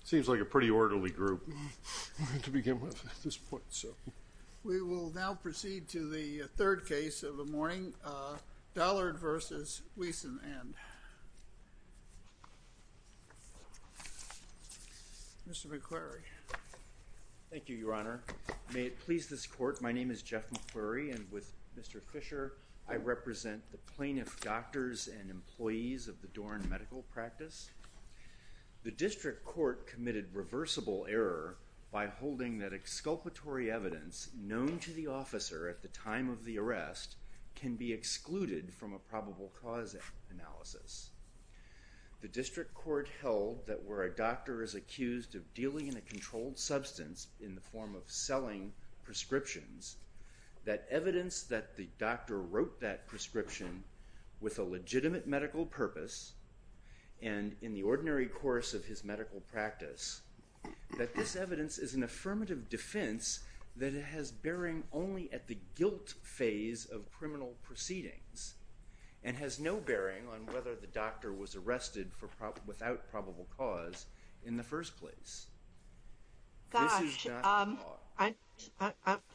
It seems like a pretty orderly group to begin with at this point. We will now proceed to the third case of the morning, Dollard v. Whisenand. Mr. McQuarrie. Thank you, Your Honor. May it please this Court, my name is Jeff McQuarrie and with Mr. Fisher, I represent the plaintiff doctors and employees of the Doran Medical Practice. The district court committed reversible error by holding that exculpatory evidence known to the officer at the time of the arrest can be excluded from a probable cause analysis. The district court held that where a doctor is accused of dealing in a controlled substance in the form of selling prescriptions, that evidence that the doctor wrote that prescription with a legitimate medical purpose and in the ordinary course of his medical practice, that this evidence is an affirmative defense that it has bearing only at the guilt phase of criminal proceedings and has no bearing on whether the doctor was arrested without probable cause in the first place. Gosh,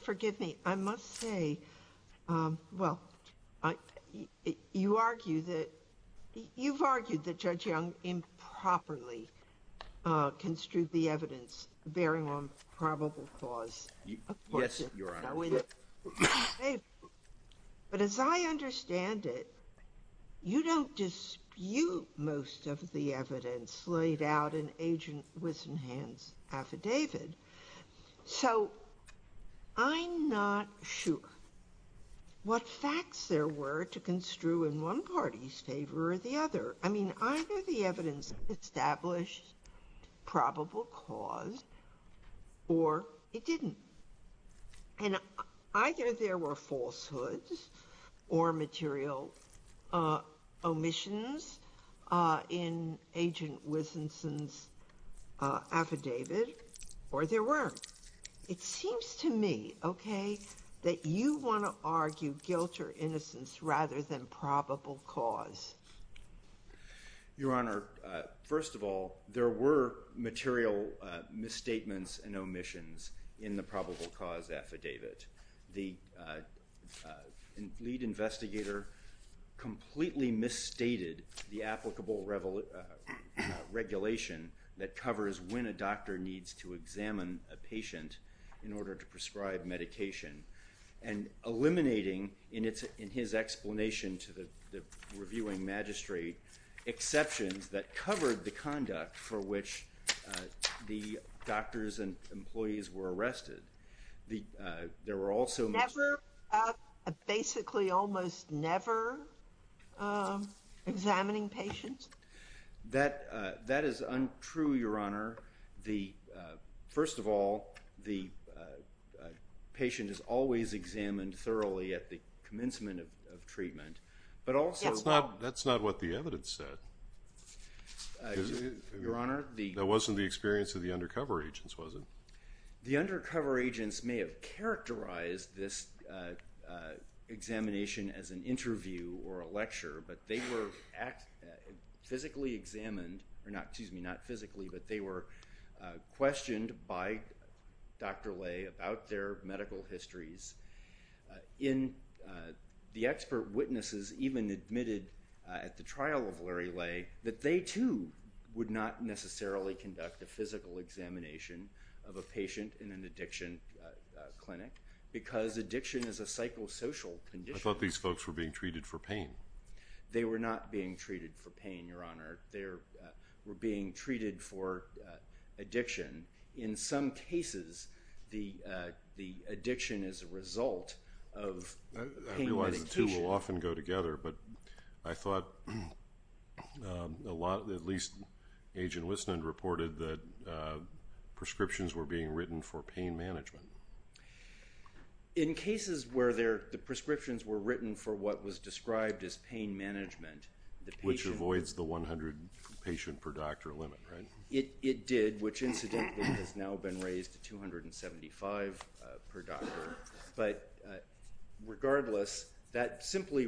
forgive me. I must say, well, you argue that you've argued that Judge Young improperly construed the evidence bearing on probable cause. Yes, Your Honor. But as I understand it, you don't dispute most of the evidence laid out in Agent Wisenhan's affidavit. So I'm not sure what facts there were to construe in one party's favor or the other. I mean, either the evidence established probable cause or it didn't. And either there were falsehoods or material omissions in Agent Wisenhan's affidavit or there weren't. It seems to me, okay, that you want to argue guilt or innocence rather than probable cause. Your Honor, first of all, there were material misstatements and omissions in the probable cause affidavit. The lead investigator completely misstated the applicable regulation that covers when a doctor needs to examine a patient in order to prescribe medication. And eliminating, in his explanation to the reviewing magistrate, exceptions that covered the conduct for which the doctors and employees were arrested. There were also misstatements. Never, basically almost never, examining patients? That is untrue, Your Honor. First of all, the patient is always examined thoroughly at the commencement of treatment. That's not what the evidence said. That wasn't the experience of the undercover agents, was it? The undercover agents may have characterized this examination as an interview or a lecture, but they were physically examined, or excuse me, not physically, but they were questioned by Dr. Lay about their medical histories. The expert witnesses even admitted at the trial of Larry Lay that they, too, would not necessarily conduct a physical examination of a patient in an addiction clinic because addiction is a psychosocial condition. I thought these folks were being treated for pain. They were not being treated for pain, Your Honor. They were being treated for addiction. In some cases, the addiction is a result of pain medication. I realize the two will often go together, but I thought a lot, at least Agent Wisnund reported that prescriptions were being written for pain management. In cases where the prescriptions were written for what was described as pain management, which avoids the 100 patient per doctor limit, right? It did, which incidentally has now been raised to 275 per doctor. But regardless, that simply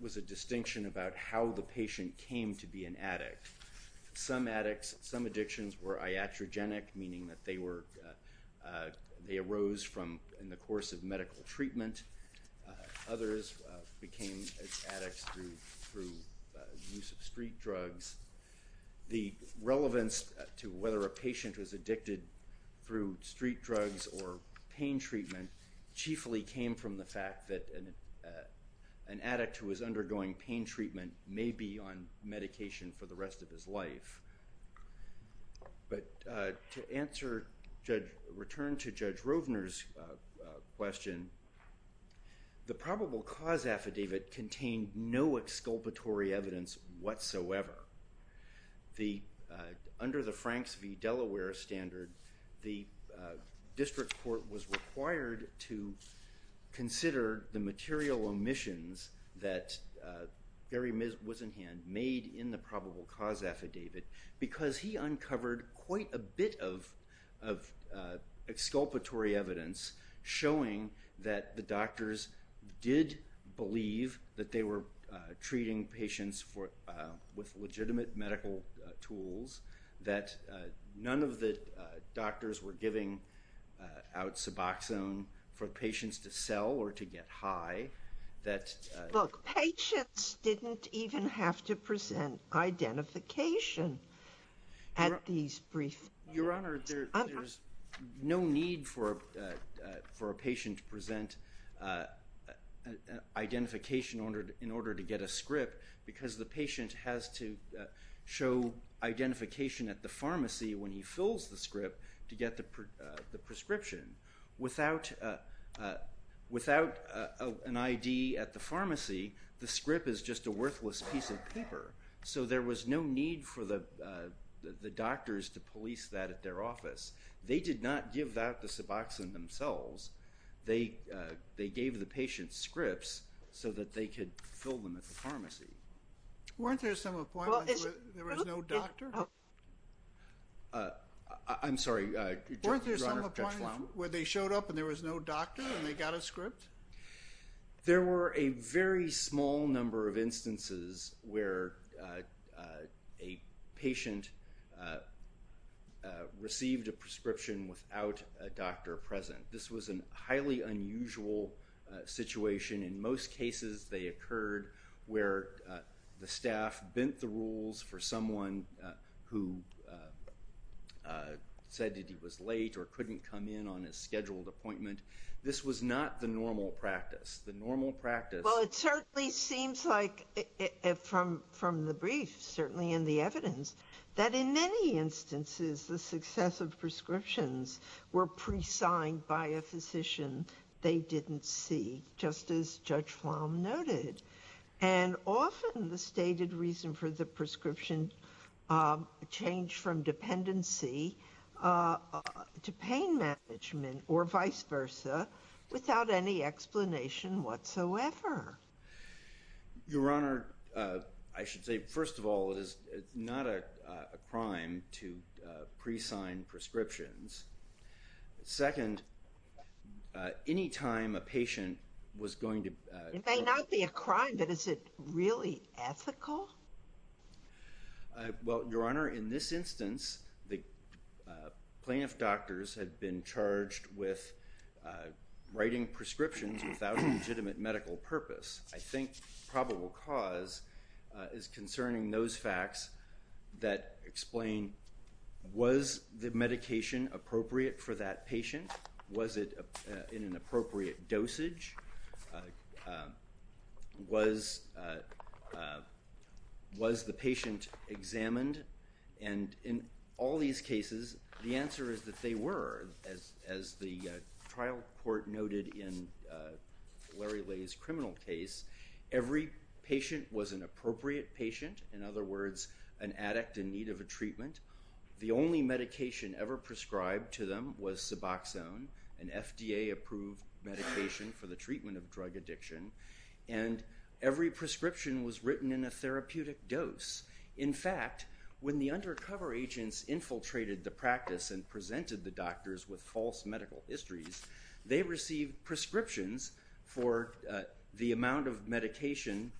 was a distinction about how the patient came to be an addict. Some addicts, some addictions were iatrogenic, meaning that they arose in the course of medical treatment. Others became addicts through use of street drugs. The relevance to whether a patient was addicted through street drugs or pain treatment chiefly came from the fact that an addict who was undergoing pain treatment may be on medication for the rest of his life. But to return to Judge Rovner's question, the probable cause affidavit contained no exculpatory evidence whatsoever. Under the Franks v. Delaware standard, the district court was required to consider the material omissions that Gary Wisenhand made in the probable cause affidavit because he uncovered quite a bit of exculpatory evidence showing that the doctors did believe that they were treating patients with legitimate medical tools, that none of the doctors were giving out Suboxone for patients to sell or to get high, Look, patients didn't even have to present identification at these briefings. Your Honor, there's no need for a patient to present identification in order to get a script because the patient has to show identification at the pharmacy when he fills the script to get the prescription. Without an ID at the pharmacy, the script is just a worthless piece of paper. So there was no need for the doctors to police that at their office. They did not give out the Suboxone themselves. They gave the patients scripts so that they could fill them at the pharmacy. Weren't there some appointments where there was no doctor? I'm sorry, Your Honor, catch the line. Weren't there some appointments where they showed up and there was no doctor and they got a script? There were a very small number of instances where a patient received a prescription without a doctor present. This was a highly unusual situation. In most cases, they occurred where the staff bent the rules for someone who said that he was late or couldn't come in on a scheduled appointment. This was not the normal practice. The normal practice... Well, it certainly seems like, from the brief, certainly in the evidence, that in many instances, the successive prescriptions were pre-signed by a physician they didn't see, just as Judge Flom noted. And often the stated reason for the prescription changed from dependency to pain management or vice versa without any explanation whatsoever. Your Honor, I should say, first of all, it is not a crime to pre-sign prescriptions. Second, any time a patient was going to... It may not be a crime, but is it really ethical? Well, Your Honor, in this instance, the plaintiff doctors had been charged with writing prescriptions without a legitimate medical purpose. I think probable cause is concerning those facts that explain, was the medication appropriate for that patient? Was it in an appropriate dosage? Was the patient examined? And in all these cases, the answer is that they were. As the trial court noted in Larry Lay's criminal case, every patient was an appropriate patient. In other words, an addict in need of a treatment. The only medication ever prescribed to them was Suboxone, an FDA-approved medication for the treatment of drug addiction. And every prescription was written in a therapeutic dose. In fact, when the undercover agents infiltrated the practice and presented the doctors with false medical histories, they received prescriptions for the amount of medication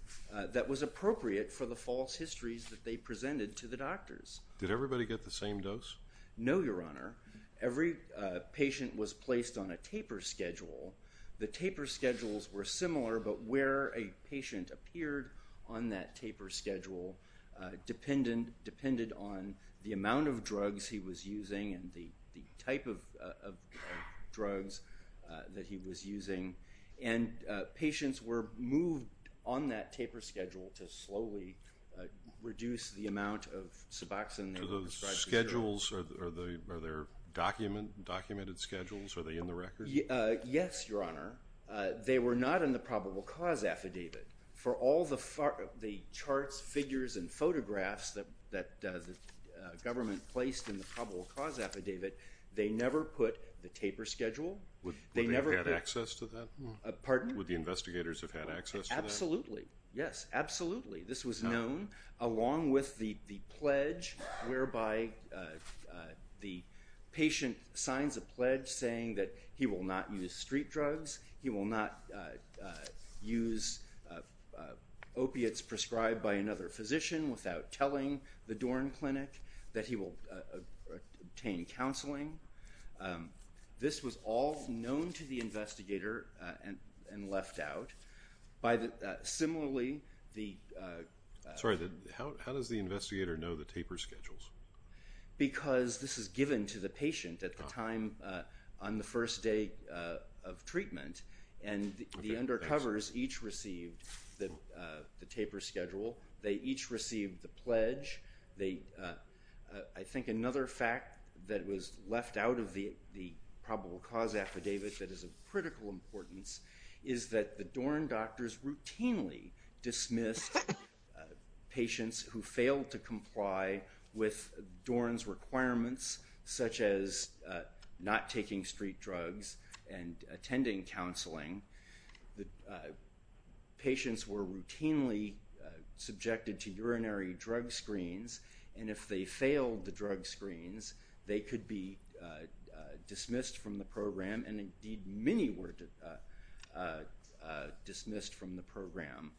that was appropriate for the false histories that they presented to the doctors. Did everybody get the same dose? No, Your Honor. Every patient was placed on a taper schedule. The taper schedules were similar, but where a patient appeared on that taper schedule depended on the amount of drugs he was using and the type of drugs that he was using. And patients were moved on that taper schedule to slowly reduce the amount of Suboxone they were prescribed. Do those schedules, are they documented schedules? Are they in the record? Yes, Your Honor. They were not in the probable cause affidavit. For all the charts, figures, and photographs that the government placed in the probable cause affidavit, they never put the taper schedule. Would they have had access to that? Pardon? Would the investigators have had access to that? Absolutely. Yes, absolutely. This was known along with the pledge whereby the patient signs a pledge saying that he will not use street drugs, he will not use opiates prescribed by another physician without telling the Dorn Clinic that he will obtain counseling. This was all known to the investigator and left out. Similarly, the… Sorry, how does the investigator know the taper schedules? Because this is given to the patient at the time on the first day of treatment, and the undercovers each received the taper schedule. They each received the pledge. I think another fact that was left out of the probable cause affidavit that is of critical importance is that the Dorn doctors routinely dismissed patients who failed to comply with Dorn's requirements, such as not taking street drugs and attending counseling. Patients were routinely subjected to urinary drug screens, and if they failed the drug screens, they could be dismissed from the program, and indeed many were dismissed from the program.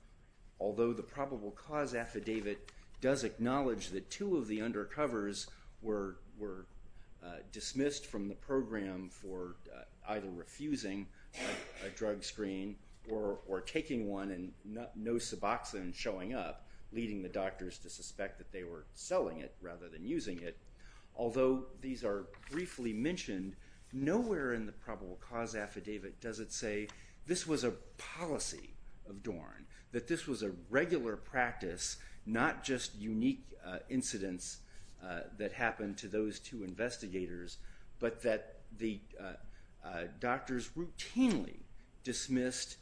Although the probable cause affidavit does acknowledge that two of the undercovers were dismissed from the program for either refusing a drug screen or taking one and no suboxone showing up, leading the doctors to suspect that they were selling it rather than using it. Although these are briefly mentioned, nowhere in the probable cause affidavit does it say this was a policy of Dorn, that this was a regular practice, not just unique incidents that happened to those two investigators, but that the doctors routinely dismissed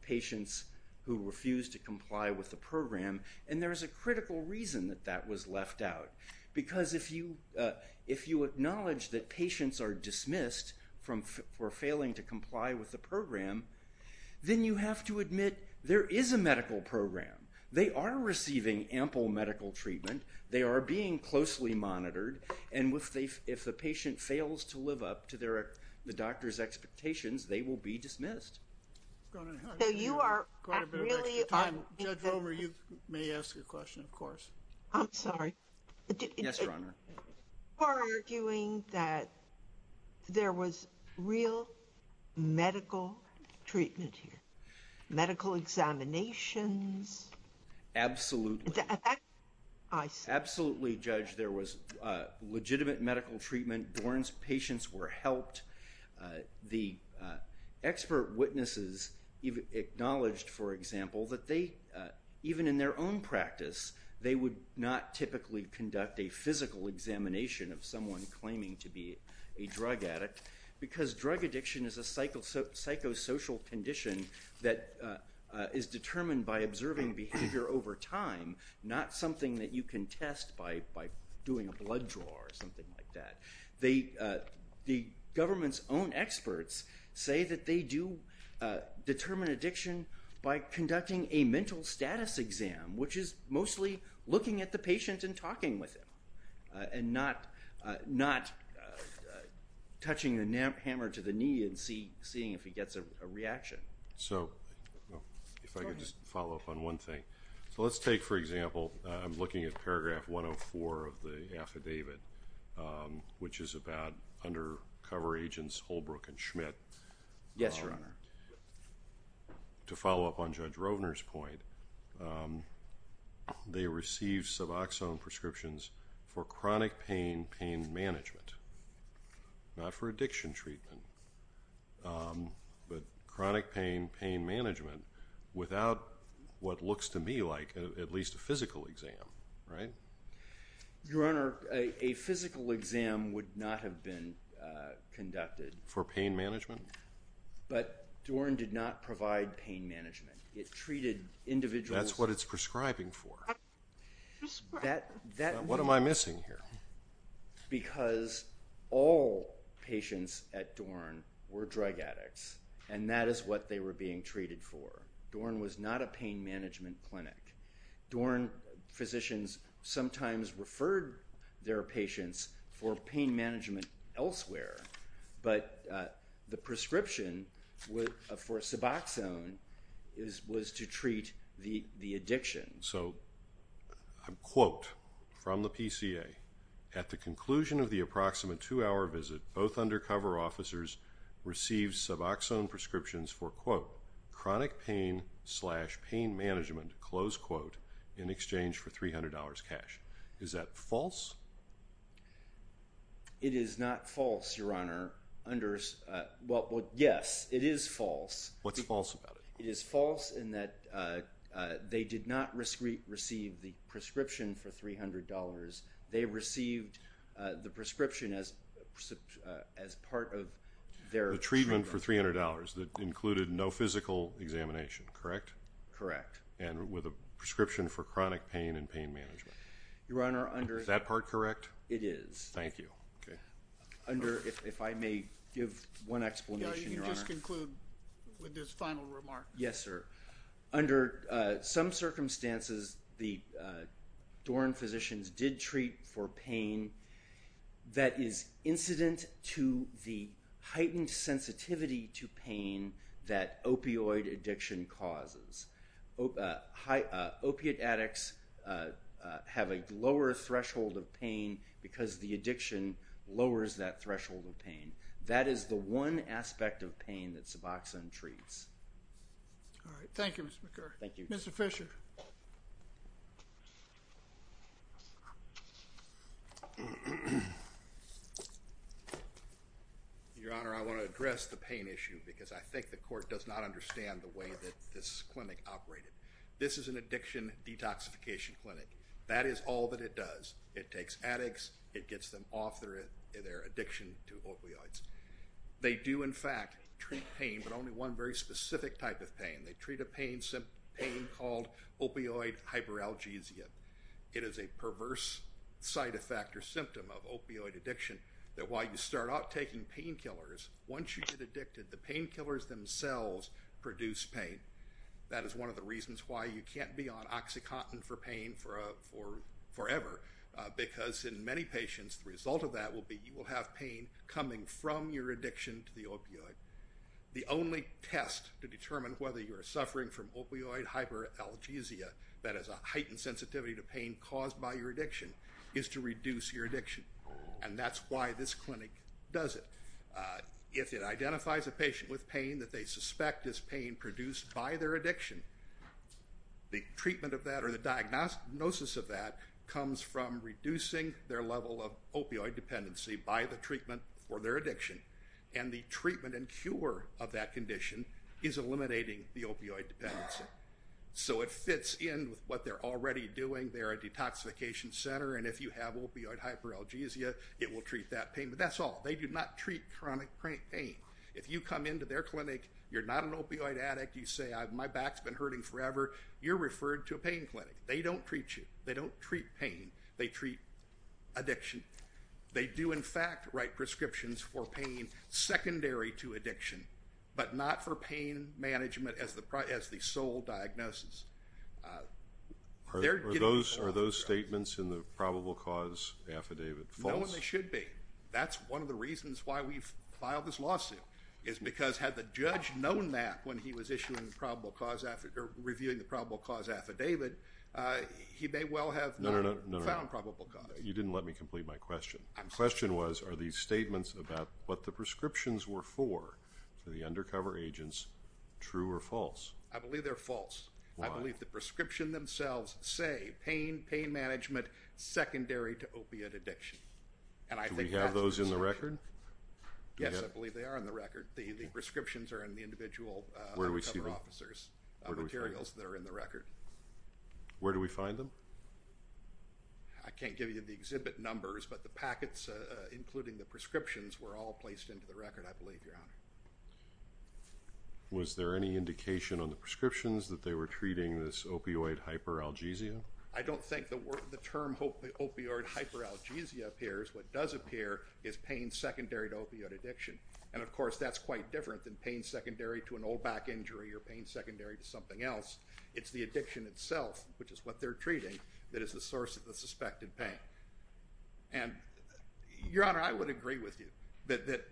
patients who refused to comply with the program, and there is a critical reason that that was left out, because if you acknowledge that patients are dismissed for failing to comply with the program, then you have to admit there is a medical program. They are receiving ample medical treatment. They are being closely monitored, and if the patient fails to live up to the doctor's expectations, they will be dismissed. Judge Romer, you may ask a question, of course. I'm sorry. Yes, Your Honor. You are arguing that there was real medical treatment here, medical examinations. Absolutely. Absolutely, Judge. There was legitimate medical treatment. Dorn's patients were helped. The expert witnesses acknowledged, for example, that even in their own practice, they would not typically conduct a physical examination of someone claiming to be a drug addict, because drug addiction is a psychosocial condition that is determined by observing behavior over time, not something that you can test by doing a blood draw or something like that. The government's own experts say that they do determine addiction by conducting a mental status exam, which is mostly looking at the patient and talking with him and not touching the hammer to the knee and seeing if he gets a reaction. So if I could just follow up on one thing. So let's take, for example, I'm looking at paragraph 104 of the affidavit, which is about undercover agents Holbrook and Schmidt. Yes, Your Honor. To follow up on Judge Rovner's point, they received suboxone prescriptions for chronic pain pain management, not for addiction treatment, but chronic pain pain management without what looks to me like at least a physical exam, right? Your Honor, a physical exam would not have been conducted. For pain management? But Dorn did not provide pain management. It treated individuals. That's what it's prescribing for. What am I missing here? Because all patients at Dorn were drug addicts, and that is what they were being treated for. Dorn was not a pain management clinic. Dorn physicians sometimes referred their patients for pain management elsewhere, but the prescription for suboxone was to treat the addiction. So a quote from the PCA, at the conclusion of the approximate two-hour visit, both undercover officers received suboxone prescriptions for, quote, chronic pain slash pain management, close quote, in exchange for $300 cash. Is that false? It is not false, Your Honor. Well, yes, it is false. What's false about it? It is false in that they did not receive the prescription for $300. They received the prescription as part of their treatment. The treatment for $300 that included no physical examination, correct? Correct. And with a prescription for chronic pain and pain management. Is that part correct? Thank you. If I may give one explanation, Your Honor. You can just conclude with this final remark. Yes, sir. Under some circumstances, the Dorn physicians did treat for pain that is incident to the heightened sensitivity to pain that opioid addiction causes. Opiate addicts have a lower threshold of pain because the addiction lowers that threshold of pain. That is the one aspect of pain that suboxone treats. All right. Thank you, Mr. McCurry. Thank you. Mr. Fisher. Your Honor, I want to address the pain issue because I think the court does not understand the way that this clinic operated. This is an addiction detoxification clinic. That is all that it does. It takes addicts. It gets them off their addiction to opioids. They do, in fact, treat pain, but only one very specific type of pain. They treat a pain called opioid hyperalgesia. It is a perverse side effect or symptom of opioid addiction that while you start out taking painkillers, once you get addicted, the painkillers themselves produce pain. That is one of the reasons why you can't be on OxyContin for pain forever. Because in many patients, the result of that will be you will have pain coming from your addiction to the opioid. The only test to determine whether you are suffering from opioid hyperalgesia that is a heightened sensitivity to pain caused by your addiction is to reduce your addiction. And that's why this clinic does it. If it identifies a patient with pain that they suspect is pain produced by their addiction, the treatment of that or the diagnosis of that comes from reducing their level of opioid dependency by the treatment for their addiction. And the treatment and cure of that condition is eliminating the opioid dependency. So it fits in with what they're already doing. They're a detoxification center, and if you have opioid hyperalgesia, it will treat that pain. But that's all. They do not treat chronic pain. If you come into their clinic, you're not an opioid addict. You say, My back's been hurting forever. You're referred to a pain clinic. They don't treat you. They don't treat pain. They treat addiction. They do, in fact, write prescriptions for pain secondary to addiction, but not for pain management as the sole diagnosis. Are those statements in the probable cause affidavit false? No, and they should be. That's one of the reasons why we filed this lawsuit is because had the judge known that when he was reviewing the probable cause affidavit, he may well have not found probable cause. You didn't let me complete my question. The question was, Are these statements about what the prescriptions were for to the undercover agents true or false? I believe they're false. Why? I believe the prescription themselves say pain, pain management, secondary to opiate addiction. Do we have those in the record? Yes, I believe they are in the record. The prescriptions are in the individual undercover officers' materials that are in the record. Where do we find them? I can't give you the exhibit numbers, but the packets, including the prescriptions, were all placed into the record, I believe, Your Honor. Was there any indication on the prescriptions that they were treating this opioid hyperalgesia? I don't think the term opioid hyperalgesia appears. What does appear is pain secondary to opioid addiction. And, of course, that's quite different than pain secondary to an old back injury or pain secondary to something else. It's the addiction itself, which is what they're treating, that is the source of the suspected pain. And, Your Honor, I would agree with you that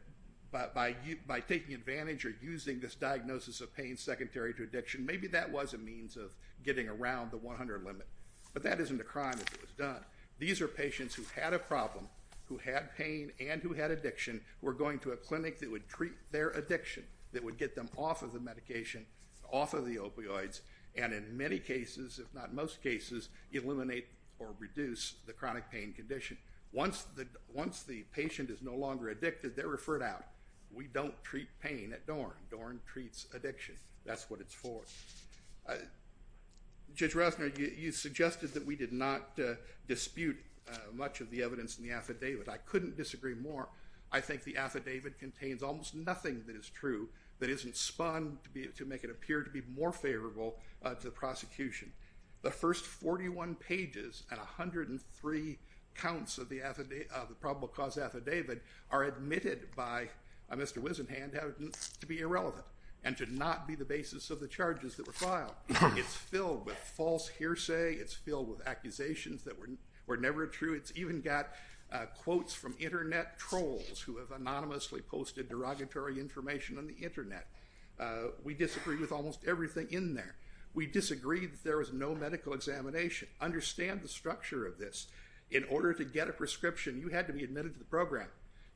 by taking advantage or using this diagnosis of pain secondary to addiction, maybe that was a means of getting around the 100 limit. But that isn't a crime if it was done. These are patients who had a problem, who had pain, and who had addiction, who are going to a clinic that would treat their addiction, that would get them off of the medication, off of the opioids, and in many cases, if not most cases, eliminate or reduce the chronic pain condition. Once the patient is no longer addicted, they're referred out. We don't treat pain at DORN. DORN treats addiction. That's what it's for. Judge Rosner, you suggested that we did not dispute much of the evidence in the affidavit. I couldn't disagree more. I think the affidavit contains almost nothing that is true, that isn't spun to make it appear to be more favorable to the prosecution. The first 41 pages and 103 counts of the probable cause affidavit are admitted by Mr. Wisenhand to be irrelevant and to not be the basis of the charges that were filed. It's filled with false hearsay. It's filled with accusations that were never true. It's even got quotes from Internet trolls who have anonymously posted derogatory information on the Internet. We disagree with almost everything in there. We disagree that there was no medical examination. Understand the structure of this. In order to get a prescription, you had to be admitted to the program.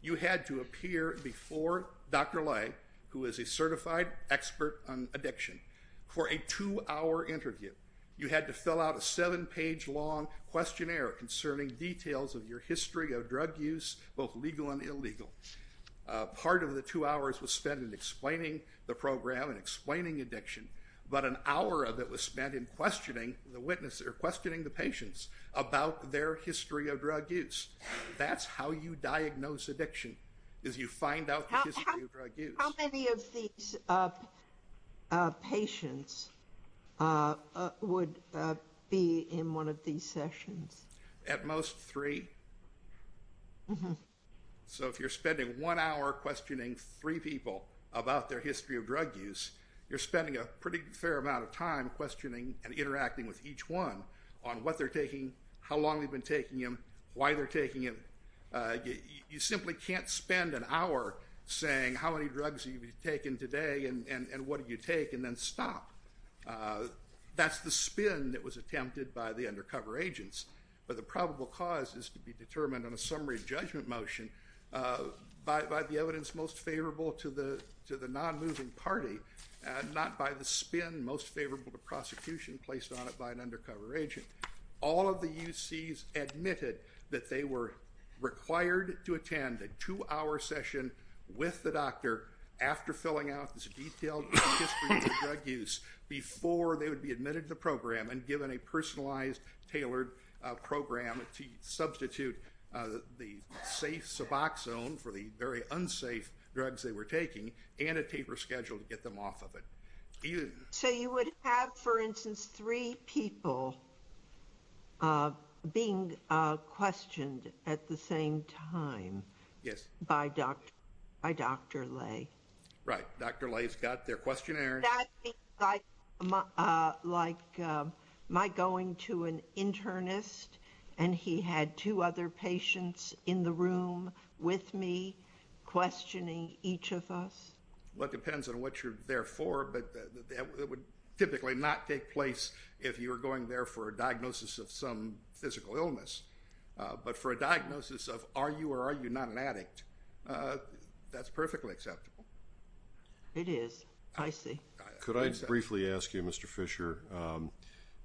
You had to appear before Dr. Lay, who is a certified expert on addiction, for a two-hour interview. You had to fill out a seven-page long questionnaire concerning details of your history of drug use, both legal and illegal. Part of the two hours was spent in explaining the program and explaining addiction, but an hour of it was spent in questioning the witness or questioning the patients about their history of drug use. That's how you diagnose addiction, is you find out the history of drug use. How many of these patients would be in one of these sessions? At most three. So if you're spending one hour questioning three people about their history of drug use, you're spending a pretty fair amount of time questioning and interacting with each one on what they're taking, how long they've been taking them, why they're taking them. You simply can't spend an hour saying how many drugs you've taken today and what did you take and then stop. That's the spin that was attempted by the undercover agents. But the probable cause is to be determined on a summary judgment motion by the evidence most favorable to the non-moving party, not by the spin most favorable to prosecution placed on it by an undercover agent. All of the UCs admitted that they were required to attend a two-hour session with the doctor after filling out this detailed history of drug use before they would be admitted to the program and given a personalized, tailored program to substitute the safe Suboxone for the very unsafe drugs they were taking and a taper schedule to get them off of it. So you would have, for instance, three people being questioned at the same time by Dr. Lay? Right. Dr. Lay's got their questionnaire. Is that like my going to an internist and he had two other patients in the room with me questioning each of us? Well, it depends on what you're there for, but that would typically not take place if you were going there for a diagnosis of some physical illness. But for a diagnosis of are you or are you not an addict, that's perfectly acceptable. It is. I see. Could I briefly ask you, Mr. Fisher,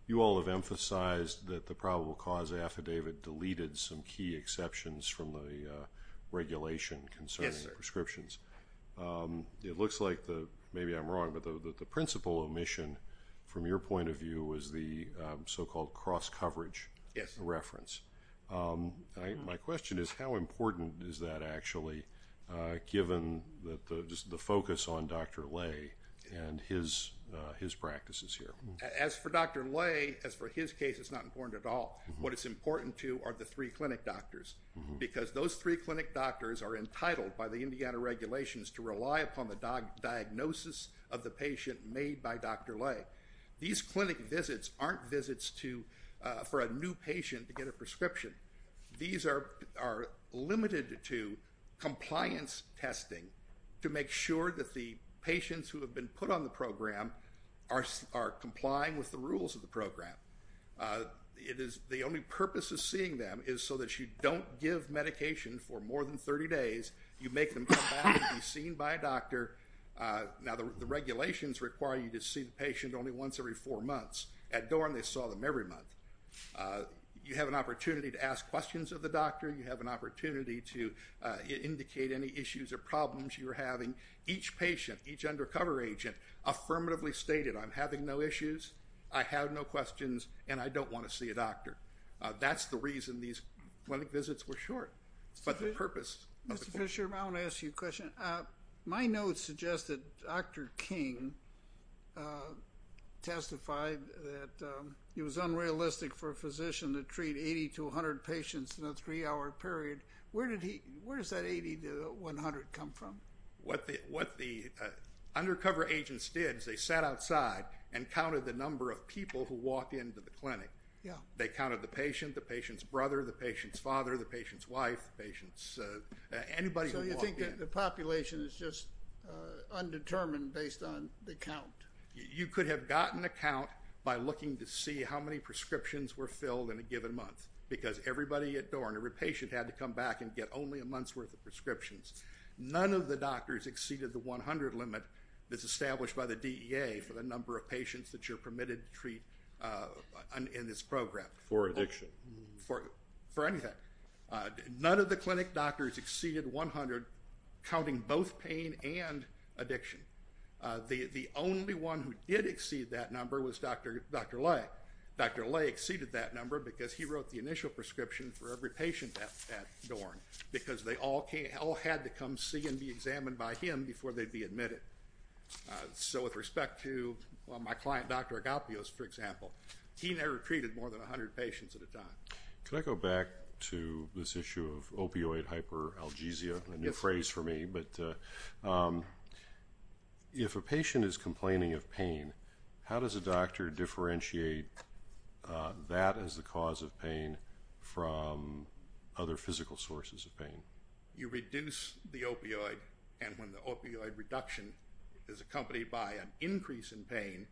you all have emphasized that the probable cause affidavit deleted some key exceptions from the regulation concerning prescriptions. Yes, sir. It looks like, maybe I'm wrong, but the principal omission from your point of view was the so-called cross-coverage reference. Yes. My question is how important is that actually given just the focus on Dr. Lay and his practices here? As for Dr. Lay, as for his case, it's not important at all. What it's important to are the three clinic doctors, because those three clinic doctors are entitled by the Indiana regulations to rely upon the diagnosis of the patient made by Dr. Lay. These clinic visits aren't visits for a new patient to get a prescription. These are limited to compliance testing to make sure that the patients who have been put on the program are complying with the rules of the program. The only purpose of seeing them is so that you don't give medication for more than 30 days. You make them come back and be seen by a doctor. Now, the regulations require you to see the patient only once every four months. At Dorn, they saw them every month. You have an opportunity to ask questions of the doctor. You have an opportunity to indicate any issues or problems you're having. Each patient, each undercover agent, affirmatively stated, I'm having no issues, I have no questions, and I don't want to see a doctor. That's the reason these clinic visits were short. Mr. Fisher, I want to ask you a question. My notes suggest that Dr. King testified that it was unrealistic for a physician to treat 80 to 100 patients in a three-hour period. Where does that 80 to 100 come from? What the undercover agents did is they sat outside and counted the number of people who walked into the clinic. They counted the patient, the patient's brother, the patient's father, the patient's wife, the patient's anybody who walked in. So you think that the population is just undetermined based on the count? You could have gotten a count by looking to see how many prescriptions were filled in a given month because everybody at Dorn, every patient had to come back and get only a month's worth of prescriptions. None of the doctors exceeded the 100 limit that's established by the DEA for the number of patients that you're permitted to treat in this program. For addiction? For anything. None of the clinic doctors exceeded 100, counting both pain and addiction. The only one who did exceed that number was Dr. Lay. Dr. Lay exceeded that number because he wrote the initial prescription for every patient at Dorn because they all had to come see and be examined by him before they'd be admitted. So with respect to my client, Dr. Agapios, for example, he never treated more than 100 patients at a time. Can I go back to this issue of opioid hyperalgesia? A new phrase for me, but if a patient is complaining of pain, how does a doctor differentiate that as the cause of pain from other physical sources of pain? You reduce the opioid, and when the opioid reduction is accompanied by an increase in pain,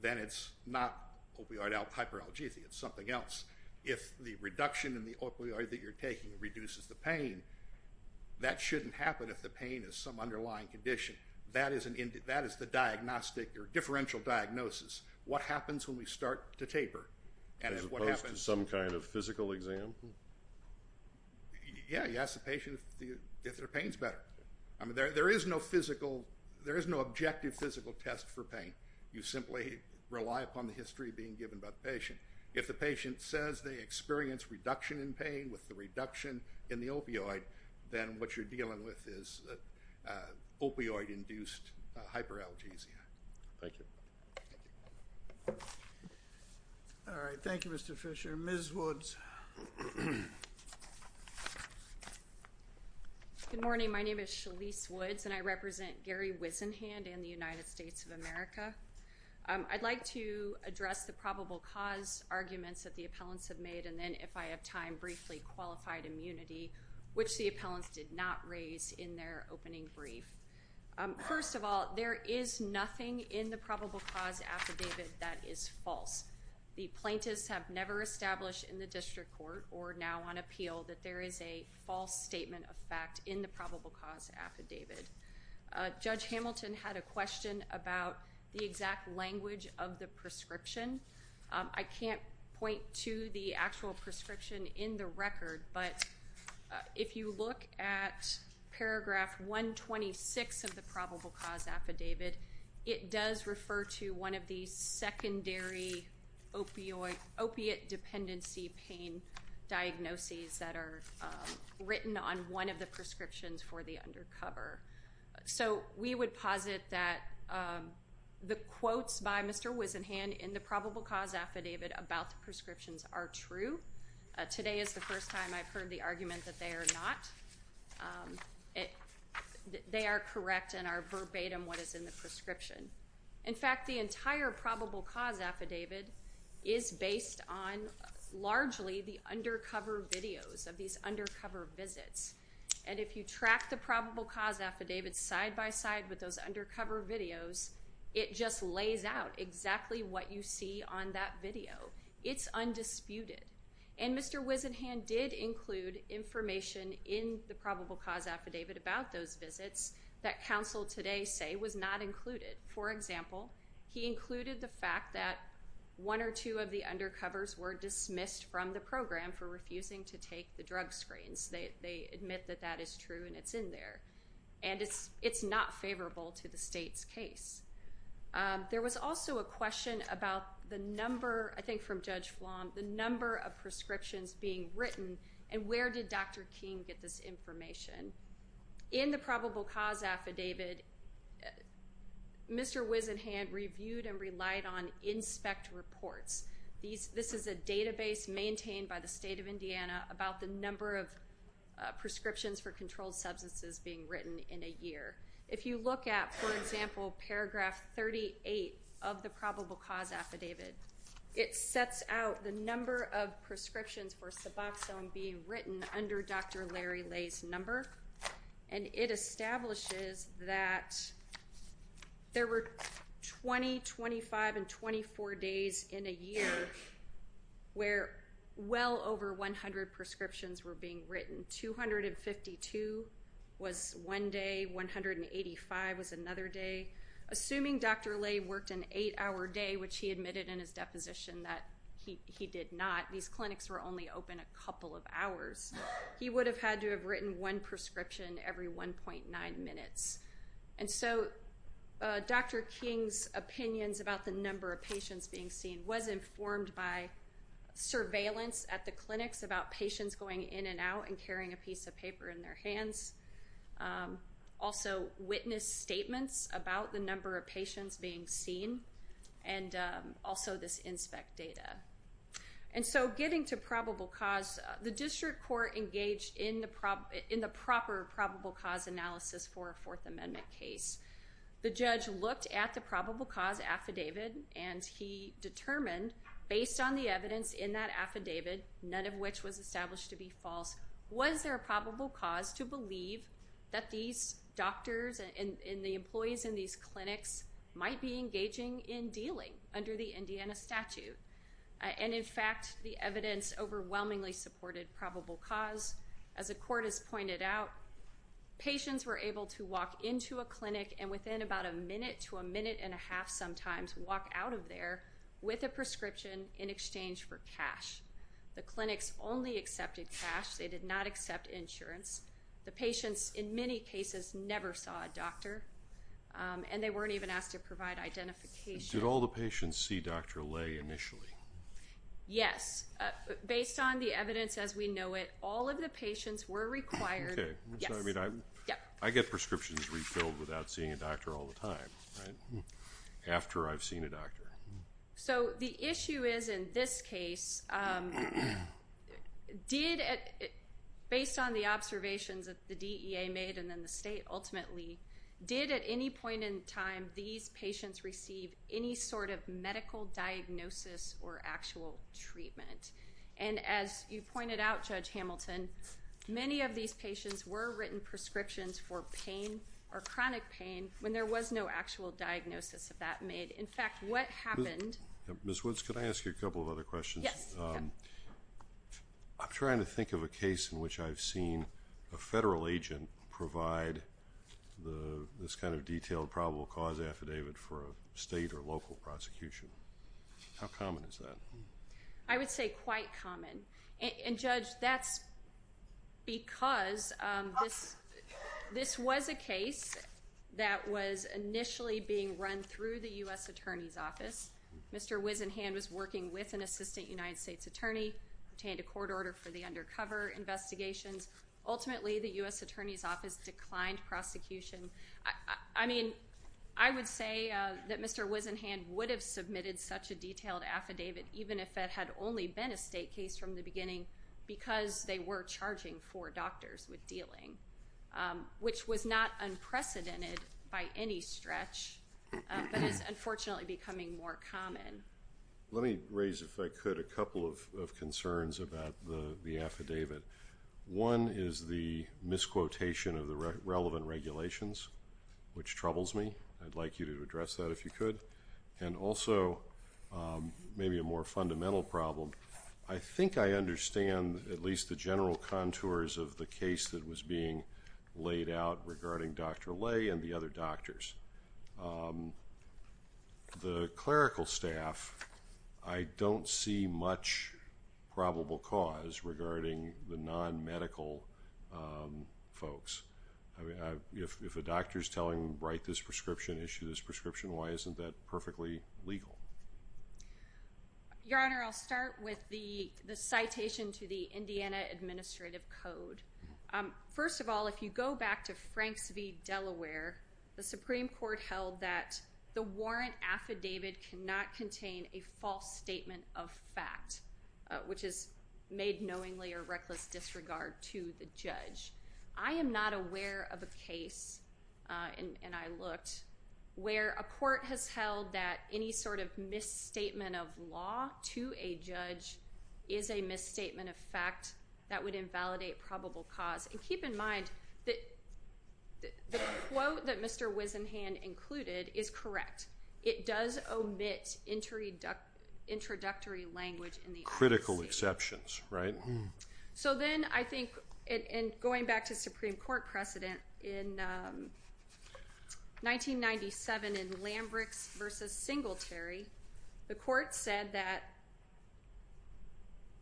then it's not opioid hyperalgesia, it's something else. If the reduction in the opioid that you're taking reduces the pain, that shouldn't happen if the pain is some underlying condition. That is the diagnostic or differential diagnosis. What happens when we start to taper? As opposed to some kind of physical exam? Yeah, you ask the patient if their pain is better. There is no physical, there is no objective physical test for pain. You simply rely upon the history being given by the patient. If the patient says they experience reduction in pain with the reduction in the opioid, then what you're dealing with is opioid-induced hyperalgesia. Thank you. All right, thank you, Mr. Fisher. Ms. Woods. Good morning. My name is Shalise Woods, and I represent Gary Wisenhand in the United States of America. I'd like to address the probable cause arguments that the appellants have made, and then, if I have time, briefly, qualified immunity, which the appellants did not raise in their opening brief. First of all, there is nothing in the probable cause affidavit that is false. The plaintiffs have never established in the district court or now on appeal that there is a false statement of fact in the probable cause affidavit. Judge Hamilton had a question about the exact language of the prescription. I can't point to the actual prescription in the record, but if you look at paragraph 126 of the probable cause affidavit, it does refer to one of the secondary opiate dependency pain diagnoses that are written on one of the prescriptions for the undercover. So we would posit that the quotes by Mr. Wisenhand in the probable cause affidavit about the prescriptions are true. Today is the first time I've heard the argument that they are not. They are correct and are verbatim what is in the prescription. In fact, the entire probable cause affidavit is based on largely the undercover videos of these undercover visits. And if you track the probable cause affidavit side by side with those undercover videos, it just lays out exactly what you see on that video. It's undisputed. And Mr. Wisenhand did include information in the probable cause affidavit about those visits that counsel today say was not included. For example, he included the fact that one or two of the undercovers were dismissed from the program for refusing to take the drug screens. They admit that that is true and it's in there. And it's not favorable to the state's case. There was also a question about the number, I think from Judge Flom, the number of prescriptions being written and where did Dr. King get this information. In the probable cause affidavit, Mr. Wisenhand reviewed and relied on InSpec reports. This is a database maintained by the state of Indiana about the number of prescriptions for controlled substances being written in a year. If you look at, for example, paragraph 38 of the probable cause affidavit, it sets out the number of prescriptions for Suboxone being written under Dr. Larry Lay's number, and it establishes that there were 20, 25, and 24 days in a year where well over 100 prescriptions were being written. 252 was one day, 185 was another day. Assuming Dr. Lay worked an eight-hour day, which he admitted in his deposition that he did not, he would have had to have written one prescription every 1.9 minutes. And so Dr. King's opinions about the number of patients being seen was informed by surveillance at the clinics about patients going in and out and carrying a piece of paper in their hands, also witness statements about the number of patients being seen, and also this InSpec data. And so getting to probable cause, the district court engaged in the proper probable cause analysis for a Fourth Amendment case. The judge looked at the probable cause affidavit, and he determined based on the evidence in that affidavit, none of which was established to be false, was there a probable cause to believe that these doctors and the employees in these clinics might be engaging in dealing under the Indiana statute. And, in fact, the evidence overwhelmingly supported probable cause. As the court has pointed out, patients were able to walk into a clinic and within about a minute to a minute and a half sometimes walk out of there with a prescription in exchange for cash. The clinics only accepted cash. They did not accept insurance. The patients, in many cases, never saw a doctor, and they weren't even asked to provide identification. Did all the patients see Dr. Lay initially? Yes. Based on the evidence as we know it, all of the patients were required. Okay. Yes. I mean, I get prescriptions refilled without seeing a doctor all the time, right, after I've seen a doctor. So the issue is in this case, did, based on the observations that the DEA made and then the state ultimately, did at any point in time these patients receive any sort of medical diagnosis or actual treatment? And as you pointed out, Judge Hamilton, many of these patients were written prescriptions for pain or chronic pain when there was no actual diagnosis of that made. In fact, what happened. Ms. Woods, could I ask you a couple of other questions? Yes. I'm trying to think of a case in which I've seen a federal agent provide this kind of detailed probable cause affidavit for a state or local prosecution. How common is that? I would say quite common. And, Judge, that's because this was a case that was initially being run through the U.S. Attorney's Office. Mr. Wisenhand was working with an assistant United States attorney, obtained a court order for the undercover investigations. Ultimately, the U.S. Attorney's Office declined prosecution. I mean, I would say that Mr. Wisenhand would have submitted such a detailed affidavit, even if it had only been a state case from the beginning, because they were charging four doctors with dealing, which was not unprecedented by any stretch, but is unfortunately becoming more common. Let me raise, if I could, a couple of concerns about the affidavit. One is the misquotation of the relevant regulations, which troubles me. I'd like you to address that if you could. And also, maybe a more fundamental problem, I think I understand at least the general contours of the case that was being laid out regarding Dr. Lay and the other doctors. The clerical staff, I don't see much probable cause regarding the non-medical folks. If a doctor is telling, write this prescription, issue this prescription, why isn't that perfectly legal? Your Honor, I'll start with the citation to the Indiana Administrative Code. First of all, if you go back to Franks v. Delaware, the Supreme Court held that the warrant affidavit cannot contain a false statement of fact, I am not aware of a case, and I looked, where a court has held that any sort of misstatement of law to a judge is a misstatement of fact that would invalidate probable cause. And keep in mind that the quote that Mr. Wisenhand included is correct. It does omit introductory language in the application. Critical exceptions, right? So then I think, and going back to Supreme Court precedent, in 1997 in Lambricks v. Singletary, the court said that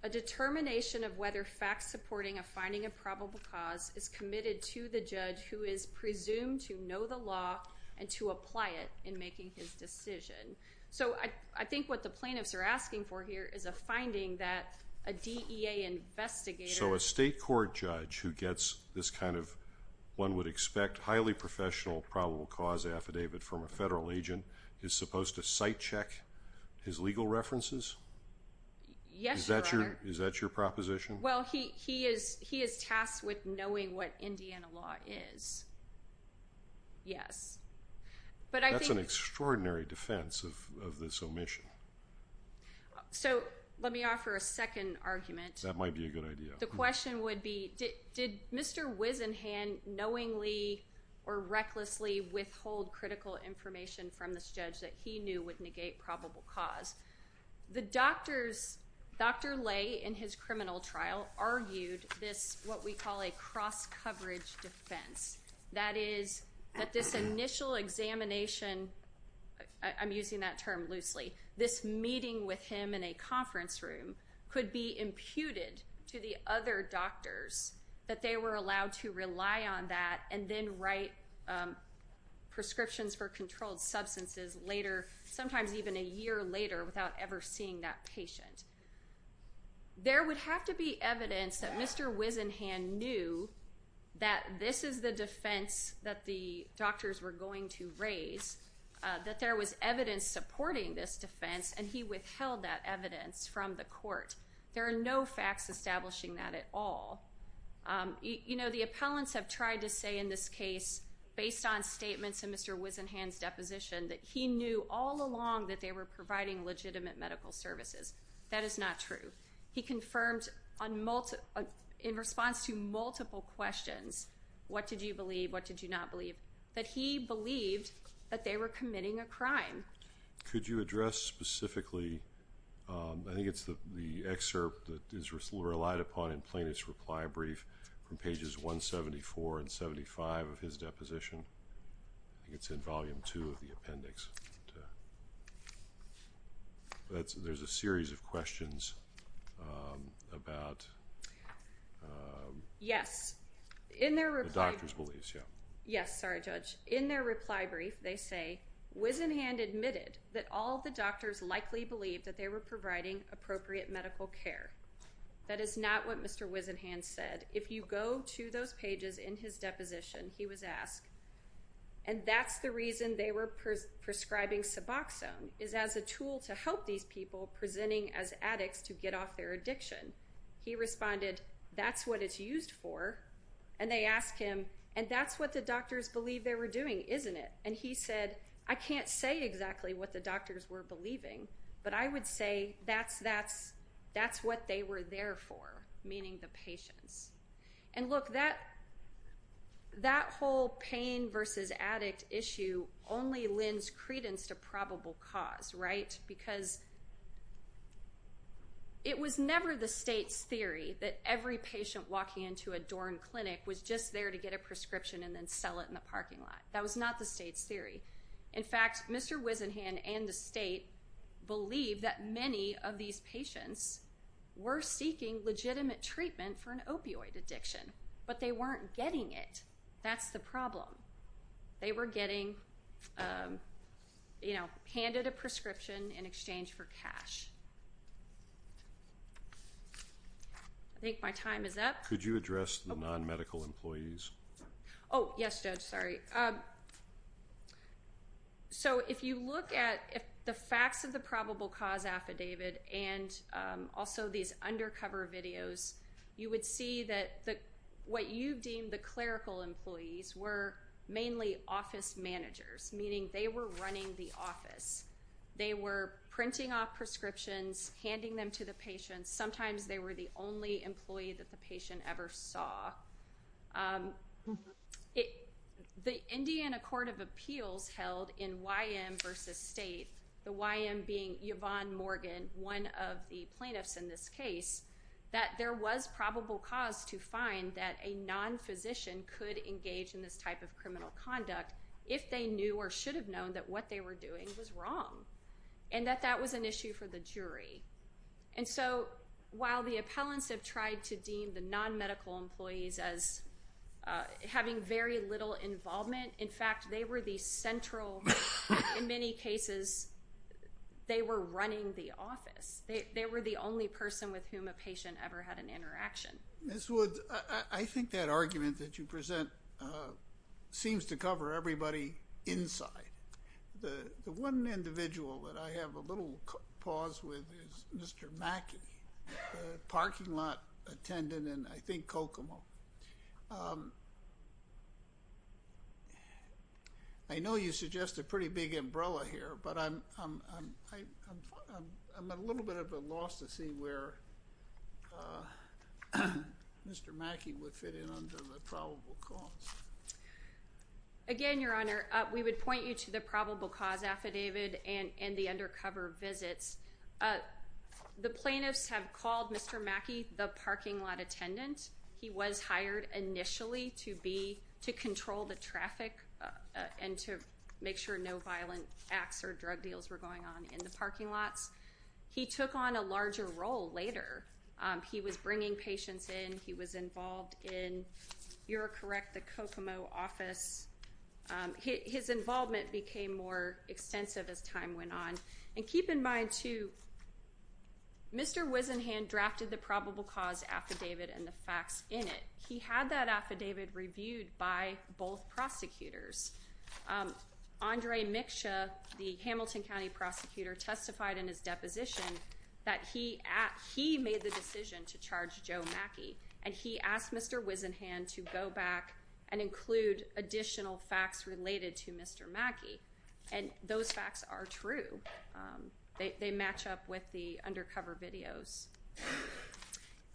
a determination of whether facts supporting a finding of probable cause is committed to the judge who is presumed to know the law and to apply it in making his decision. So I think what the plaintiffs are asking for here is a finding that a DEA investigator... So a state court judge who gets this kind of, one would expect, highly professional probable cause affidavit from a federal agent is supposed to site check his legal references? Yes, Your Honor. Is that your proposition? Well, he is tasked with knowing what Indiana law is. Yes. That's an extraordinary defense of this omission. So let me offer a second argument. That might be a good idea. The question would be, did Mr. Wisenhand knowingly or recklessly withhold critical information from this judge that he knew would negate probable cause? The doctors, Dr. Lay in his criminal trial argued this, what we call a cross-coverage defense. That is that this initial examination, I'm using that term loosely, this meeting with him in a conference room could be imputed to the other doctors that they were allowed to rely on that and then write prescriptions for controlled substances later, sometimes even a year later, without ever seeing that patient. There would have to be evidence that Mr. Wisenhand knew that this is the defense that the doctors were going to raise, that there was evidence supporting this defense, and he withheld that evidence from the court. There are no facts establishing that at all. You know, the appellants have tried to say in this case, based on statements in Mr. Wisenhand's deposition, that he knew all along that they were providing legitimate medical services. That is not true. He confirmed in response to multiple questions, what did you believe, what did you not believe, that he believed that they were committing a crime. Could you address specifically, I think it's the excerpt that is relied upon in plaintiff's reply brief from pages 174 and 75 of his deposition. I think it's in volume two of the appendix. There's a series of questions about the doctor's beliefs. Yes, sorry, Judge. In their reply brief, they say, Wisenhand admitted that all the doctors likely believed that they were providing appropriate medical care. That is not what Mr. Wisenhand said. If you go to those pages in his deposition, he was asked, and that's the reason they were prescribing Suboxone, is as a tool to help these people presenting as addicts to get off their addiction. He responded, that's what it's used for. And they asked him, and that's what the doctors believe they were doing, isn't it? And he said, I can't say exactly what the doctors were believing, but I would say that's what they were there for, meaning the patients. And look, that whole pain versus addict issue only lends credence to probable cause, right? Because it was never the state's theory that every patient walking into a Dorn clinic was just there to get a prescription and then sell it in the parking lot. That was not the state's theory. In fact, Mr. Wisenhand and the state believe that many of these patients were seeking legitimate treatment for an opioid addiction, but they weren't getting it. That's the problem. They were getting, you know, handed a prescription in exchange for cash. I think my time is up. Could you address the non-medical employees? Oh, yes, Judge, sorry. So if you look at the facts of the probable cause affidavit and also these undercover videos, you would see that what you deem the clerical employees were mainly office managers, meaning they were running the office. They were printing off prescriptions, handing them to the patients. Sometimes they were the only employee that the patient ever saw. The Indiana Court of Appeals held in YM versus state, the YM being Yvonne Morgan, one of the plaintiffs in this case, that there was probable cause to find that a non-physician could engage in this type of criminal conduct if they knew or should have known that what they were doing was wrong and that that was an issue for the jury. And so while the appellants have tried to deem the non-medical employees as having very little involvement, in fact, they were the central, in many cases, they were running the office. They were the only person with whom a patient ever had an interaction. Ms. Woods, I think that argument that you present seems to cover everybody inside. The one individual that I have a little pause with is Mr. Mackey, the parking lot attendant in, I think, Kokomo. I know you suggest a pretty big umbrella here, but I'm a little bit at a loss to see where Mr. Mackey would fit in under the probable cause. Again, Your Honor, we would point you to the probable cause affidavit and the undercover visits. The plaintiffs have called Mr. Mackey the parking lot attendant. He was hired initially to control the traffic and to make sure no violent acts or drug deals were going on in the parking lots. He took on a larger role later. He was bringing patients in. He was involved in, you're correct, the Kokomo office. His involvement became more extensive as time went on. And keep in mind, too, Mr. Wisenhan drafted the probable cause affidavit and the facts in it. He had that affidavit reviewed by both prosecutors. Andre Miksha, the Hamilton County prosecutor, testified in his deposition that he made the decision to charge Joe Mackey, and he asked Mr. Wisenhan to go back and include additional facts related to Mr. Mackey. And those facts are true. They match up with the undercover videos.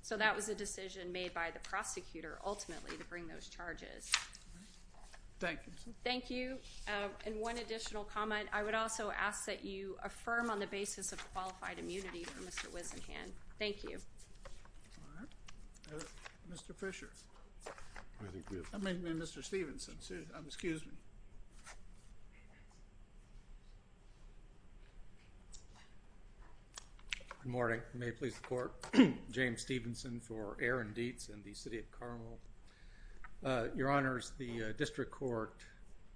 So that was a decision made by the prosecutor, ultimately, to bring those charges. Thank you. Thank you. And one additional comment. I would also ask that you affirm on the basis of qualified immunity for Mr. Wisenhan. Thank you. Mr. Fisher. I mean, Mr. Stephenson. Excuse me. Good morning. May it please the Court. James Stephenson for Aaron Dietz and the City of Carmel. Your Honors, the district court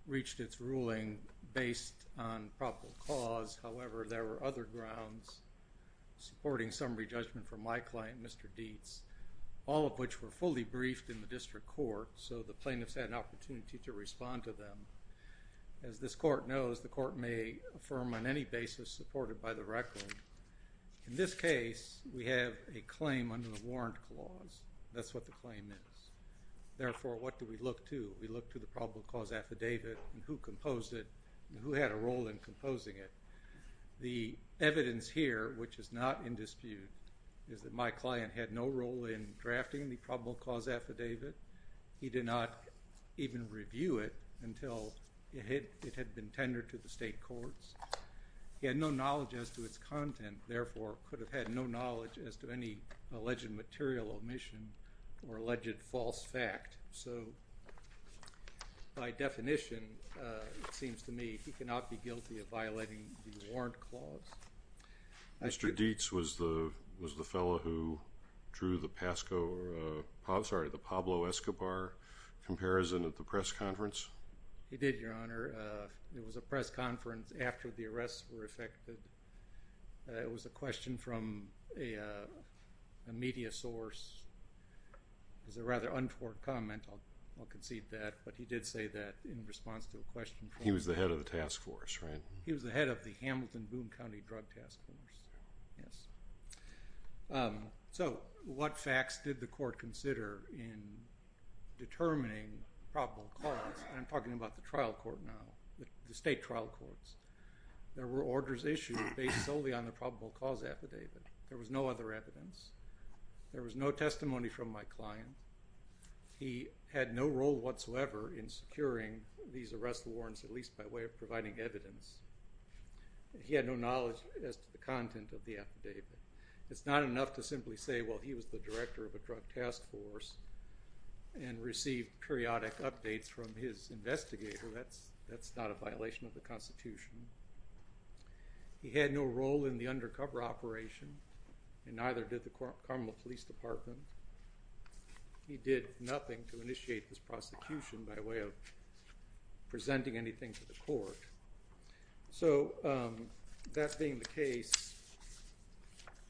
reached its ruling based on probable cause. However, there were other grounds supporting summary judgment for my client, Mr. Dietz, all of which were fully briefed in the district court, so the plaintiffs had an opportunity to respond to them. As this court knows, the court may affirm on any basis supported by the record. In this case, we have a claim under the warrant clause. That's what the claim is. Therefore, what do we look to? We look to the probable cause affidavit and who composed it and who had a role in composing it. The evidence here, which is not in dispute, is that my client had no role in drafting the probable cause affidavit. He did not even review it until it had been tendered to the state courts. He had no knowledge as to its content, and therefore could have had no knowledge as to any alleged material omission or alleged false fact. So by definition, it seems to me, he cannot be guilty of violating the warrant clause. Mr. Dietz was the fellow who drew the Pablo Escobar comparison at the press conference? He did, Your Honor. It was a press conference after the arrests were effected. It was a question from a media source. It was a rather untoward comment. I'll concede that. But he did say that in response to a question. He was the head of the task force, right? He was the head of the Hamilton-Boone County Drug Task Force, yes. So what facts did the court consider in determining probable cause? I'm talking about the trial court now, the state trial courts. There were orders issued based solely on the probable cause affidavit. There was no other evidence. There was no testimony from my client. He had no role whatsoever in securing these arrest warrants, at least by way of providing evidence. He had no knowledge as to the content of the affidavit. It's not enough to simply say, well, he was the director of a drug task force and received periodic updates from his investigator. That's not a violation of the Constitution. He had no role in the undercover operation, and neither did the Carmel Police Department. He did nothing to initiate this prosecution by way of So that being the case,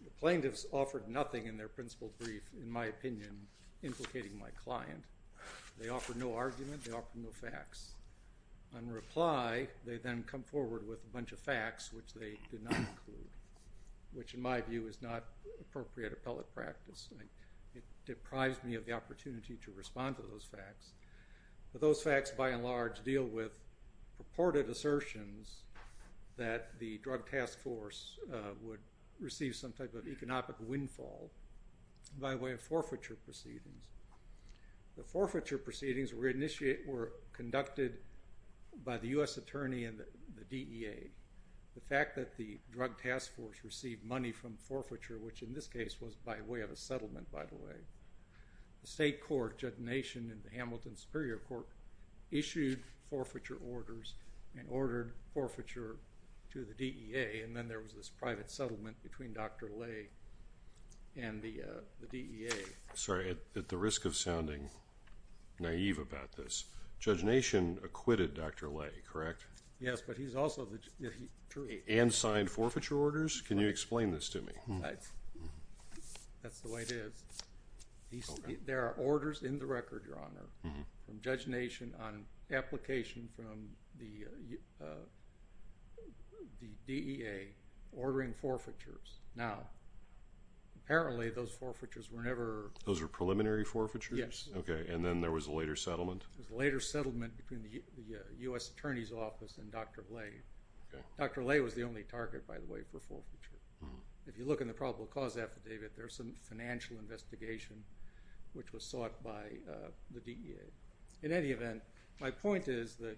the plaintiffs offered nothing in their principled brief, in my opinion, implicating my client. They offered no argument. They offered no facts. On reply, they then come forward with a bunch of facts, which they did not include, which, in my view, is not appropriate appellate practice. It deprived me of the opportunity to respond to those facts. Those facts, by and large, deal with purported assertions that the drug task force would receive some type of economic windfall by way of forfeiture proceedings. The forfeiture proceedings were conducted by the U.S. Attorney and the DEA. The fact that the drug task force received money from forfeiture, which in this case was by way of a settlement, by the way, the state court, Judd Nation and the Hamilton Superior Court, issued forfeiture orders and ordered forfeiture to the DEA, and then there was this private settlement between Dr. Lay and the DEA. Sorry, at the risk of sounding naive about this, Judge Nation acquitted Dr. Lay, correct? Yes, but he's also the jury. And signed forfeiture orders? Can you explain this to me? There are orders in the record, Your Honor, from Judge Nation on application from the DEA ordering forfeitures. Now, apparently those forfeitures were never— Those were preliminary forfeitures? Yes. Okay, and then there was a later settlement? There was a later settlement between the U.S. Attorney's Office and Dr. Lay. Dr. Lay was the only target, by the way, for forfeiture. If you look in the probable cause affidavit, there's some financial investigation which was sought by the DEA. In any event, my point is that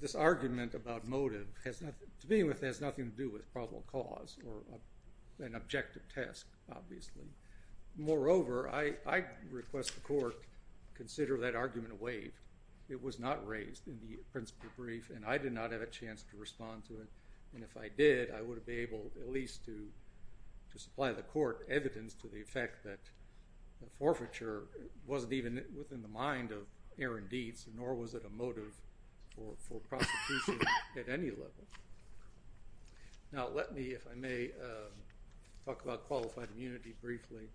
this argument about motive has nothing— to me, it has nothing to do with probable cause or an objective test, obviously. Moreover, I request the court consider that argument waived. It was not raised in the principle brief, and I did not have a chance to respond to it. And if I did, I would be able at least to supply the court evidence to the effect that the forfeiture wasn't even within the mind of Aaron Dietz, nor was it a motive for prosecution at any level. Now, let me, if I may, talk about qualified immunity briefly.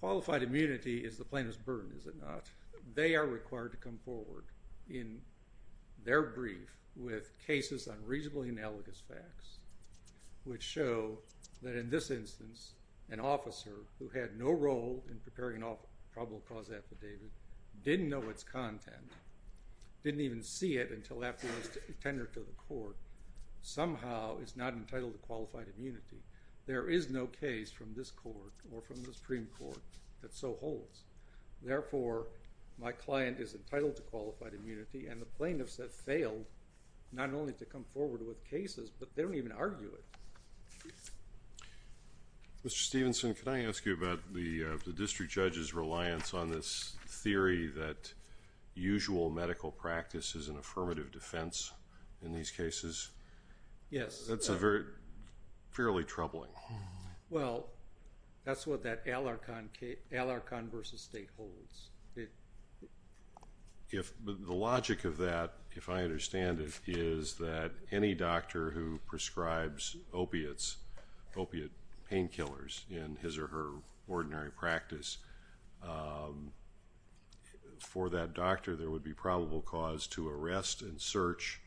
Qualified immunity is the plaintiff's burden, is it not? They are required to come forward in their brief with cases on reasonably analogous facts, which show that in this instance, an officer who had no role in preparing a probable cause affidavit, didn't know its content, didn't even see it until after it was tendered to the court, somehow is not entitled to qualified immunity. There is no case from this court or from the Supreme Court that so holds. Therefore, my client is entitled to qualified immunity, and the plaintiffs have failed not only to come forward with cases, but they don't even argue it. Mr. Stephenson, can I ask you about the district judge's reliance on this theory that usual medical practice is an affirmative defense in these cases? Yes. That's fairly troubling. Well, that's what that Alarcon v. State holds. The logic of that, if I understand it, is that any doctor who prescribes opiates, opiate painkillers in his or her ordinary practice, for that doctor there would be probable cause to arrest and search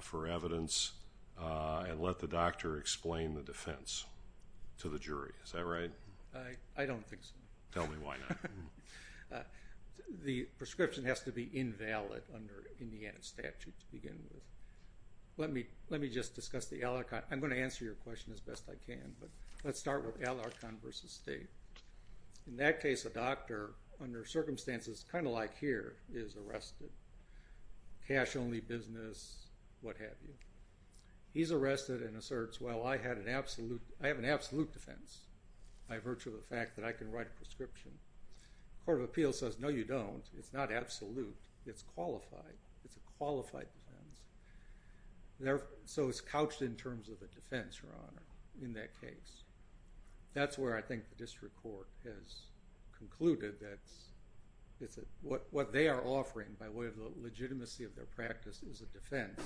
for evidence and let the doctor explain the defense to the jury. Is that right? I don't think so. Tell me why not. The prescription has to be invalid under Indiana statute to begin with. Let me just discuss the Alarcon. I'm going to answer your question as best I can, but let's start with Alarcon v. State. In that case, a doctor, under circumstances kind of like here, is arrested. Cash only business, what have you. He's arrested and asserts, well, I have an absolute defense by virtue of the fact that I can write a prescription. Court of Appeals says, no, you don't. It's not absolute. It's qualified. It's a qualified defense. So it's couched in terms of a defense, Your Honor, in that case. That's where I think the district court has concluded that what they are offering by way of the legitimacy of their practice is a defense.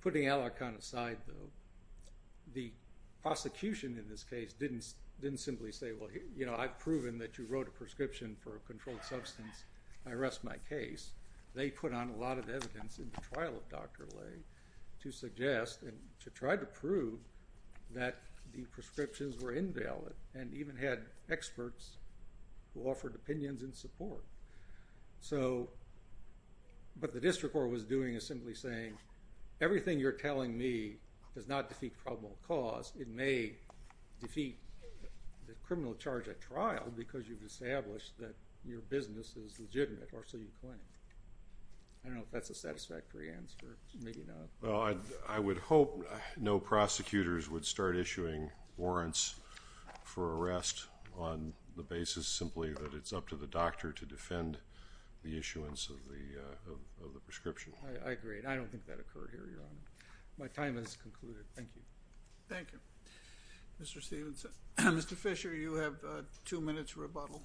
Putting Alarcon aside, though, the prosecution in this case didn't simply say, well, you know, I've proven that you wrote a prescription for a controlled substance. I rest my case. They put on a lot of evidence in the trial of Dr. Lay to suggest and to try to prove that the prescriptions were invalid and even had experts who offered opinions in support. So what the district court was doing is simply saying, everything you're telling me does not defeat probable cause. It may defeat the criminal charge at trial because you've established that your business is legitimate or so you claim. I don't know if that's a satisfactory answer. Maybe not. Well, I would hope no prosecutors would start issuing warrants for arrest on the basis simply that it's up to the doctor to defend the issuance of the prescription. I agree. I don't think that occurred here, Your Honor. My time has concluded. Thank you. Thank you. Mr. Stephenson. Mr. Fisher, you have two minutes rebuttal.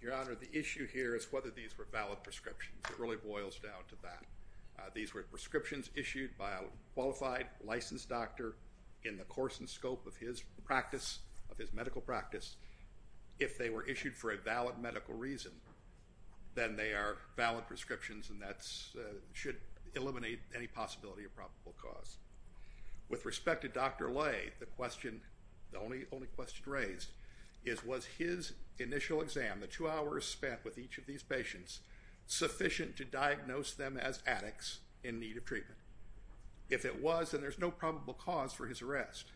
Your Honor, the issue here is whether these were valid prescriptions. It really boils down to that. These were prescriptions issued by a qualified, licensed doctor in the course and scope of his practice, of his medical practice. If they were issued for a valid medical reason, then they are valid prescriptions and that should eliminate any possibility of probable cause. With respect to Dr. Lay, the only question raised is was his initial exam, the two hours spent with each of these patients, sufficient to diagnose them as addicts in need of treatment? If it was, then there's no probable cause for his arrest.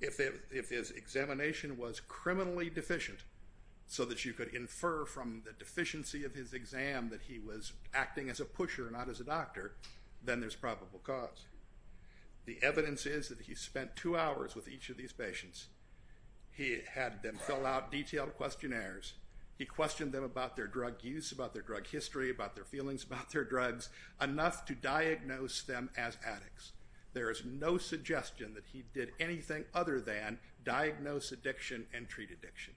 If his examination was criminally deficient so that you could infer from the deficiency of his exam that he was acting as a pusher, not as a doctor, then there's probable cause. The evidence is that he spent two hours with each of these patients. He had them fill out detailed questionnaires. He questioned them about their drug use, about their drug history, about their feelings about their drugs, enough to diagnose them as addicts. There is no suggestion that he did anything other than diagnose addiction and treat addiction.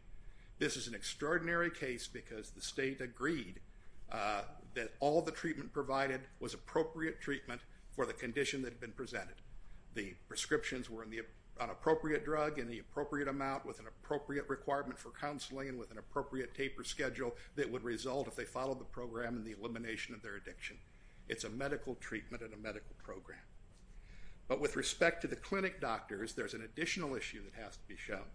This is an extraordinary case because the state agreed that all the treatment provided was appropriate treatment for the condition that had been presented. The prescriptions were an appropriate drug in the appropriate amount with an appropriate requirement for counseling and with an appropriate taper schedule that would result if they followed the program in the elimination of their addiction. It's a medical treatment and a medical program. But with respect to the clinic doctors, there's an additional issue that has to be shown.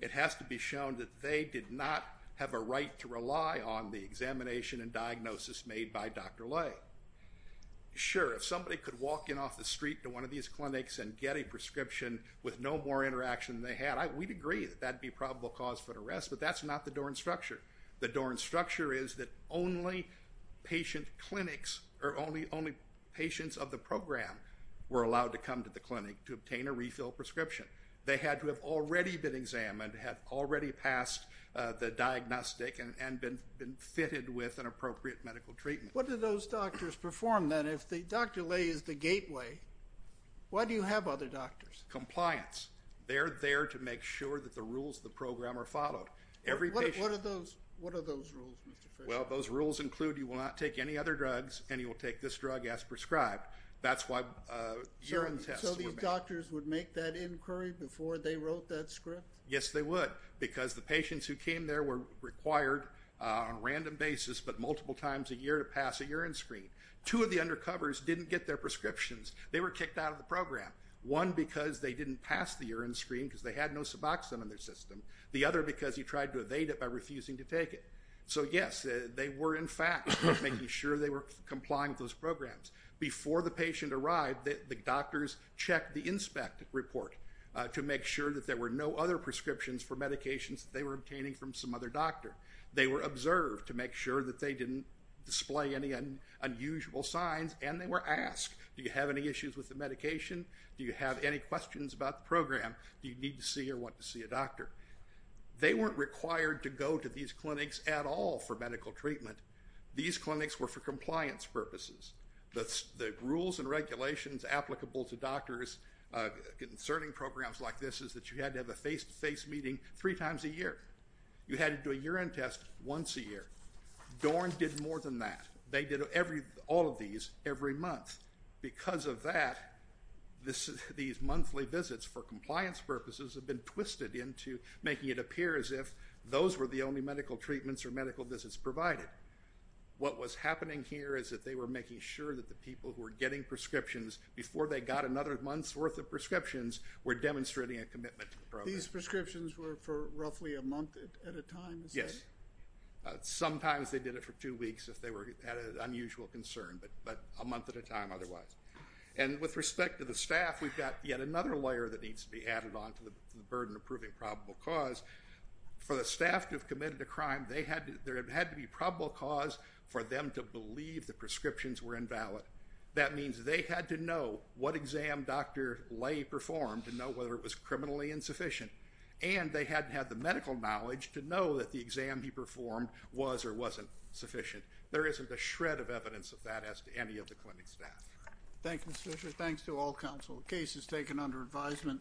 It has to be shown that they did not have a right to rely on the examination and diagnosis made by Dr. Lay. Sure, if somebody could walk in off the street to one of these clinics and get a prescription with no more interaction than they had, we'd agree that that would be probable cause for arrest, but that's not the Doran structure. The Doran structure is that only patient clinics or only patients of the program were allowed to come to the clinic to obtain a refill prescription. They had to have already been examined, had already passed the diagnostic and been fitted with an appropriate medical treatment. What do those doctors perform then? If Dr. Lay is the gateway, why do you have other doctors? Compliance. They're there to make sure that the rules of the program are followed. What are those rules, Mr. Frisch? Well, those rules include you will not take any other drugs and you will take this drug as prescribed. That's why urine tests were made. Do you think doctors would make that inquiry before they wrote that script? Yes, they would because the patients who came there were required on a random basis but multiple times a year to pass a urine screen. Two of the undercovers didn't get their prescriptions. They were kicked out of the program, one because they didn't pass the urine screen because they had no Suboxone in their system, the other because you tried to evade it by refusing to take it. So, yes, they were, in fact, making sure they were complying with those programs. Before the patient arrived, the doctors checked the inspect report to make sure that there were no other prescriptions for medications that they were obtaining from some other doctor. They were observed to make sure that they didn't display any unusual signs, and they were asked, do you have any issues with the medication? Do you have any questions about the program? Do you need to see or want to see a doctor? They weren't required to go to these clinics at all for medical treatment. These clinics were for compliance purposes. The rules and regulations applicable to doctors concerning programs like this is that you had to have a face-to-face meeting three times a year. You had to do a urine test once a year. DORN did more than that. They did all of these every month. Because of that, these monthly visits for compliance purposes have been twisted into making it appear as if those were the only medical treatments or medical visits provided. What was happening here is that they were making sure that the people who were getting prescriptions before they got another month's worth of prescriptions were demonstrating a commitment to the program. These prescriptions were for roughly a month at a time? Yes. Sometimes they did it for two weeks if they had an unusual concern, but a month at a time otherwise. And with respect to the staff, we've got yet another layer that needs to be added on to the burden of proving probable cause. For the staff to have committed a crime, there had to be probable cause for them to believe the prescriptions were invalid. That means they had to know what exam Dr. Lay performed to know whether it was criminally insufficient. And they had to have the medical knowledge to know that the exam he performed was or wasn't sufficient. There isn't a shred of evidence of that as to any of the clinic staff. Thank you, Mr. Fisher. Thanks to all counsel. The case is taken under advisement.